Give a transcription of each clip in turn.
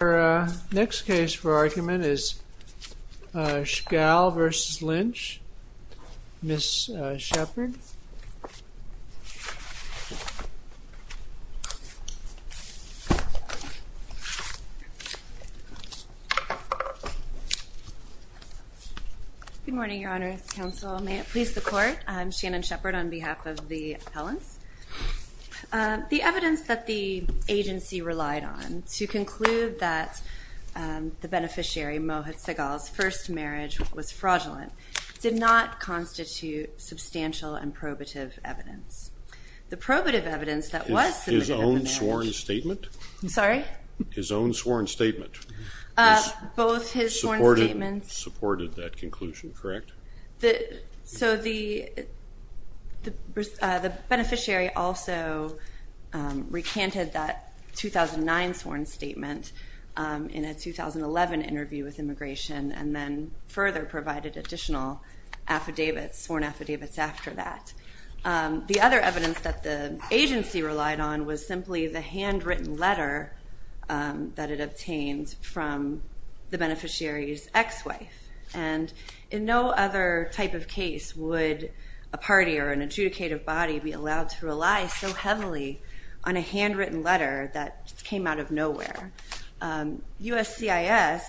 Our next case for argument is Sehgal v. Lynch. Ms. Shepard. Good morning, Your Honor. Counsel, may it please the Court. I'm Shannon Shepard on behalf of the appellants. The evidence that the agency relied on to conclude that the beneficiary, Mohit Sehgal's, first marriage was fraudulent did not constitute substantial and probative evidence. The probative evidence that was submitted in the marriage... His own sworn statement? Sorry? His own sworn statement? Both his sworn statements... Supported that conclusion, correct? So the beneficiary also recanted that 2009 sworn statement in a 2011 interview with Immigration and then further provided additional affidavits, sworn affidavits after that. The other evidence that the agency relied on was simply the handwritten letter that it obtained from the beneficiary's ex-wife. And in no other type of case would a party or an adjudicative body be allowed to rely so heavily on a handwritten letter that came out of nowhere. USCIS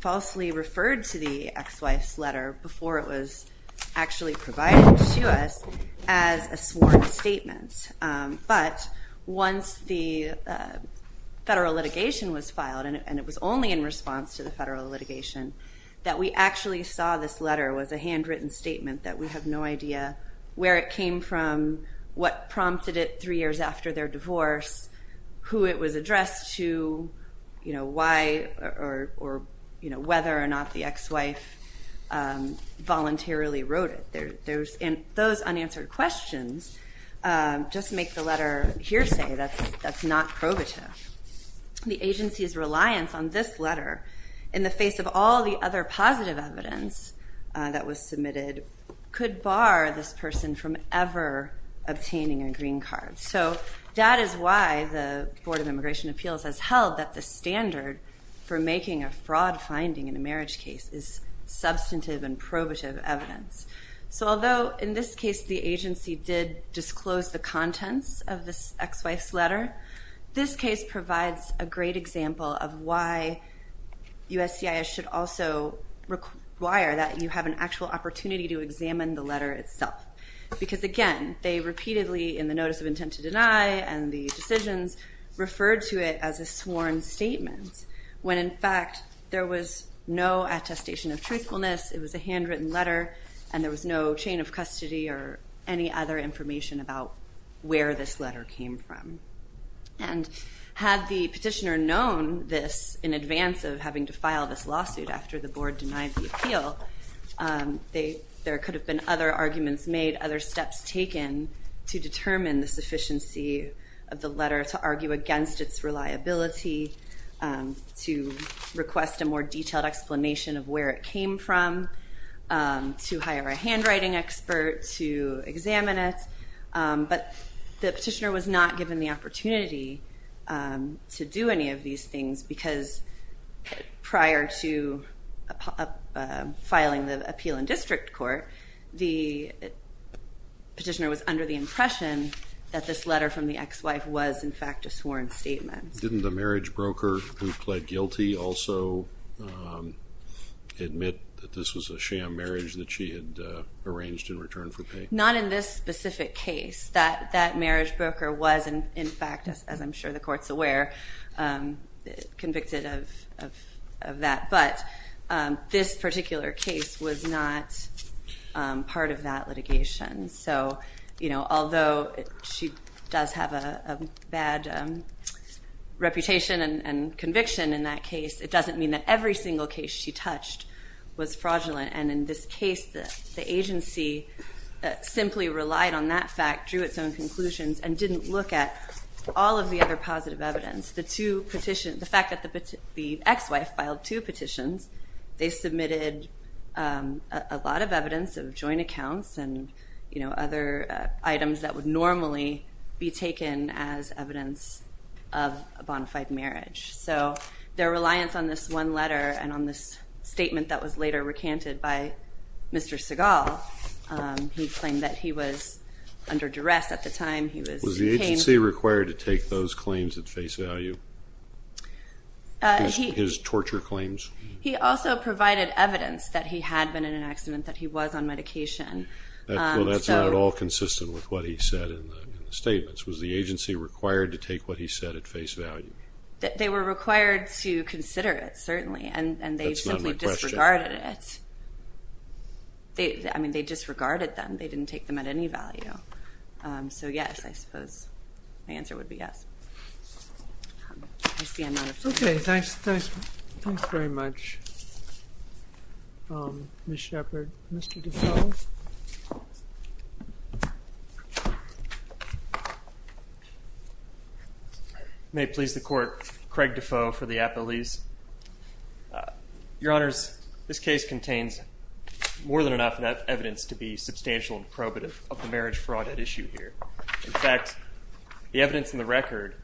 falsely referred to the ex-wife's letter before it was actually provided to us as a sworn statement. But once the federal litigation was filed, and it was only in response to the federal litigation, that we actually saw this letter was a handwritten statement that we have no idea where it came from, what prompted it three years after their divorce, who it was addressed to, why or whether or not the ex-wife voluntarily wrote it. Those unanswered questions just make the letter hearsay that's not probative. The agency's reliance on this letter in the face of all the other positive evidence that was submitted could bar this person from ever obtaining a green card. So that is why the Board of Immigration Appeals has held that the standard for making a fraud finding in a marriage case is substantive and probative evidence. So although in this case the agency did disclose the contents of this ex-wife's letter, this case provides a great example of why USCIS should also require that you have an actual opportunity to examine the letter itself. Because again, they repeatedly, in the notice of intent to deny and the decisions, referred to it as a sworn statement, when in fact there was no attestation of truthfulness, it was a handwritten letter, and there was no chain of custody or any other information about where this letter came from. And had the petitioner known this in advance of having to file this lawsuit after the board denied the appeal, there could have been other arguments made, other steps taken to determine the sufficiency of the letter, to argue against its reliability, to request a more detailed explanation of where it came from, to hire a handwriting expert to examine it. But the petitioner was not given the opportunity to do any of these things because prior to filing the appeal in district court, the petitioner was under the impression that this letter from the ex-wife was in fact a sworn statement. Didn't the marriage broker who pled guilty also admit that this was a sham marriage that she had arranged in return for pay? Not in this specific case. That marriage broker was in fact, as I'm sure the court's aware, convicted of that. But this particular case was not part of that litigation. So although she does have a bad reputation and conviction in that case, it doesn't mean that every single case she touched was fraudulent. And in this case, the agency simply relied on that fact, drew its own conclusions, and didn't look at all of the other positive evidence. The two petitions, the fact that the ex-wife filed two petitions, they submitted a lot of evidence of joint accounts and other items that would normally be taken as evidence of a bona fide marriage. So their reliance on this one letter and on this statement that was later recanted by Mr. Seagal, he claimed that he was under duress at the time, he was in pain. Was the agency required to take those claims at face value? His torture claims? He also provided evidence that he had been in an accident, that he was on medication. Well, that's not at all consistent with what he said in the statements. Was the agency required to take what he said at face value? They were required to consider it, certainly. That's not my question. And they simply disregarded it. I mean, they disregarded them. They didn't take them at any value. So, yes, I suppose my answer would be yes. Okay, thanks very much, Ms. Shepard. Mr. Defoe. May it please the Court, Craig Defoe for the appellees. Your Honors, this case contains more than enough evidence to be substantial and probative of the marriage fraud at issue here. In fact, the evidence in the record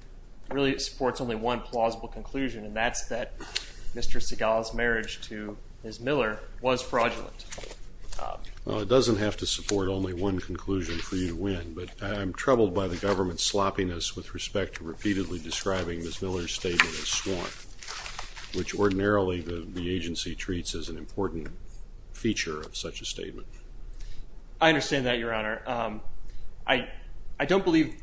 really supports only one plausible conclusion, and that's that Mr. Segal's marriage to Ms. Miller was fraudulent. Well, it doesn't have to support only one conclusion for you to win, but I'm troubled by the government's sloppiness with respect to repeatedly describing Ms. Miller's statement as swan, which ordinarily the agency treats as an important feature of such a statement. I understand that, Your Honor. I don't believe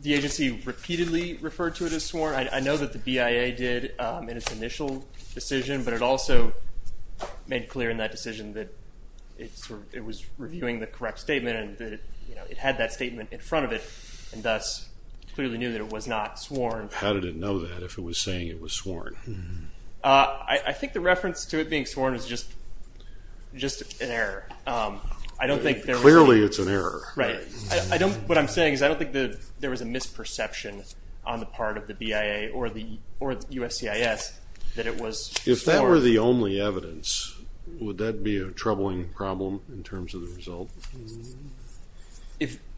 the agency repeatedly referred to it as swan. I know that the BIA did in its initial decision, but it also made clear in that decision that it was reviewing the correct statement and that it had that statement in front of it and thus clearly knew that it was not swan. How did it know that if it was saying it was swan? I think the reference to it being swan is just an error. Clearly it's an error. What I'm saying is I don't think there was a misperception on the part of the BIA or the USCIS that it was swan. If that were the only evidence, would that be a troubling problem in terms of the result?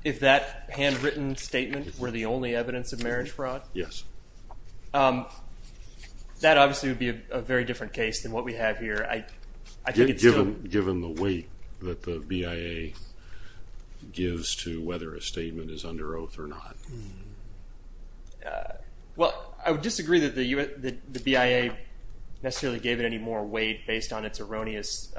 If that handwritten statement were the only evidence of marriage fraud? Yes. That obviously would be a very different case than what we have here. Given the weight that the BIA gives to whether a statement is under oath or not? Well, I would disagree that the BIA necessarily gave it any more weight based on its erroneous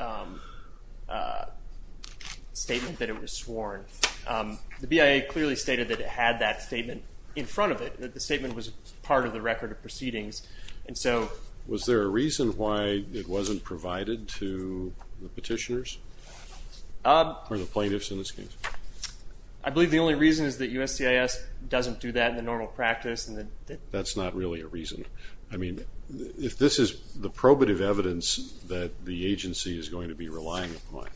statement that it was swan. The BIA clearly stated that it had that statement in front of it, that the statement was part of the record of proceedings. Was there a reason why it wasn't provided to the petitioners or the plaintiffs in this case? I believe the only reason is that USCIS doesn't do that in the normal practice. That's not really a reason. I mean, if this is the probative evidence that the agency is going to be relying upon,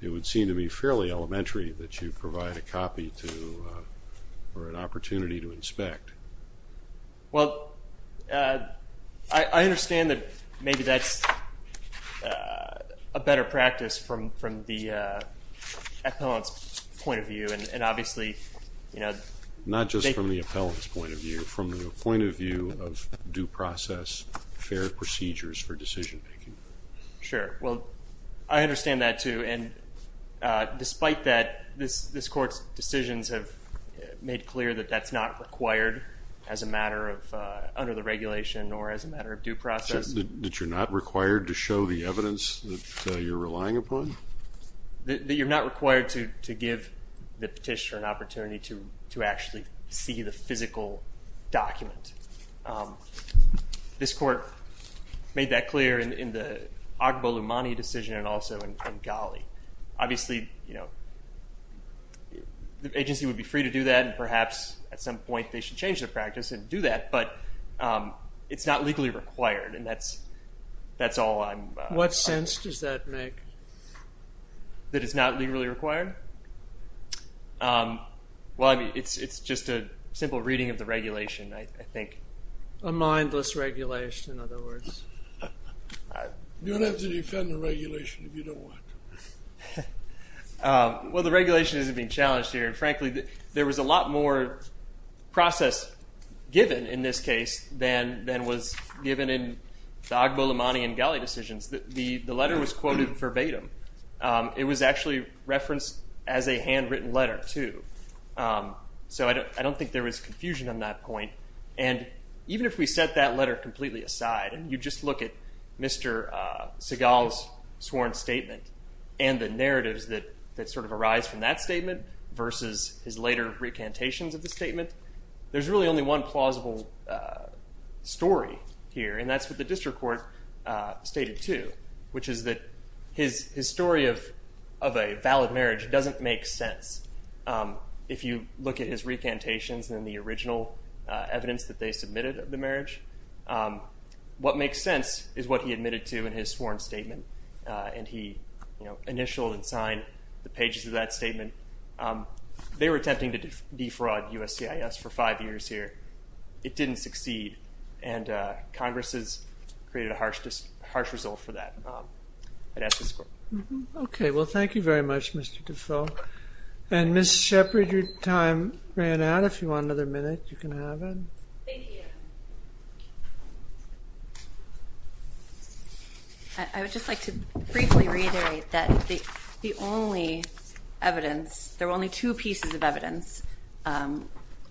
it would seem to me fairly elementary that you provide a copy or an opportunity to inspect. Well, I understand that maybe that's a better practice from the appellant's point of view, and obviously- Not just from the appellant's point of view. From the point of view of due process, fair procedures for decision-making. Sure. Well, I understand that, too. And despite that, this Court's decisions have made clear that that's not required as a matter of under the regulation or as a matter of due process. That you're not required to show the evidence that you're relying upon? That you're not required to give the petitioner an opportunity to actually see the physical document. This Court made that clear in the Agbo-Lumani decision and also in Ghali. Obviously, the agency would be free to do that, and perhaps at some point they should change their practice and do that, but it's not legally required, and that's all I'm- What sense does that make? That it's not legally required? Well, it's just a simple reading of the regulation, I think. A mindless regulation, in other words. You don't have to defend the regulation if you don't want to. Well, the regulation isn't being challenged here, and frankly, there was a lot more process given in this case than was given in the Agbo-Lumani and Ghali decisions. The letter was quoted verbatim. It was actually referenced as a handwritten letter, too. So I don't think there was confusion on that point, and even if we set that letter completely aside and you just look at Mr. Seagal's sworn statement and the narratives that sort of arise from that statement versus his later recantations of the statement, there's really only one plausible story here, and that's what the district court stated, too, which is that his story of a valid marriage doesn't make sense. If you look at his recantations and the original evidence that they submitted of the marriage, what makes sense is what he admitted to in his sworn statement, and he initialed and signed the pages of that statement. They were attempting to defraud USCIS for five years here. It didn't succeed, and Congress has created a harsh result for that. I'd ask this court. Okay. Well, thank you very much, Mr. Defoe. And Ms. Shepard, your time ran out. If you want another minute, you can have it. Thank you. I would just like to briefly reiterate that the only evidence, there were only two pieces of evidence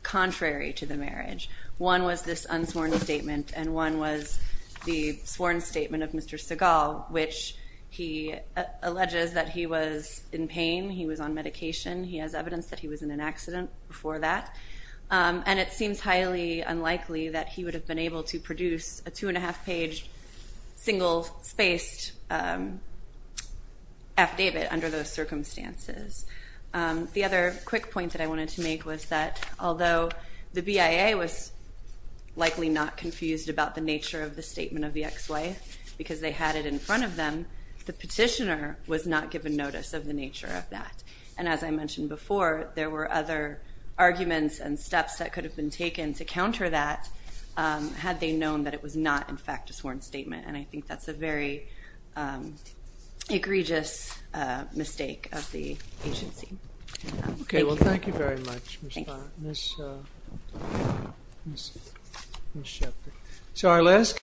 contrary to the marriage. One was this unsworn statement, and one was the sworn statement of Mr. Segal, which he alleges that he was in pain, he was on medication, he has evidence that he was in an accident before that, and it seems highly unlikely that he would have been able to produce a two-and-a-half-page, single-spaced affidavit under those circumstances. The other quick point that I wanted to make was that although the BIA was likely not confused about the nature of the statement of the ex-wife because they had it in front of them, the petitioner was not given notice of the nature of that. And as I mentioned before, there were other arguments and steps that could have been taken to counter that had they known that it was not, in fact, a sworn statement. And I think that's a very egregious mistake of the agency. Okay. Well, thank you very much, Ms. Shepherd. So our last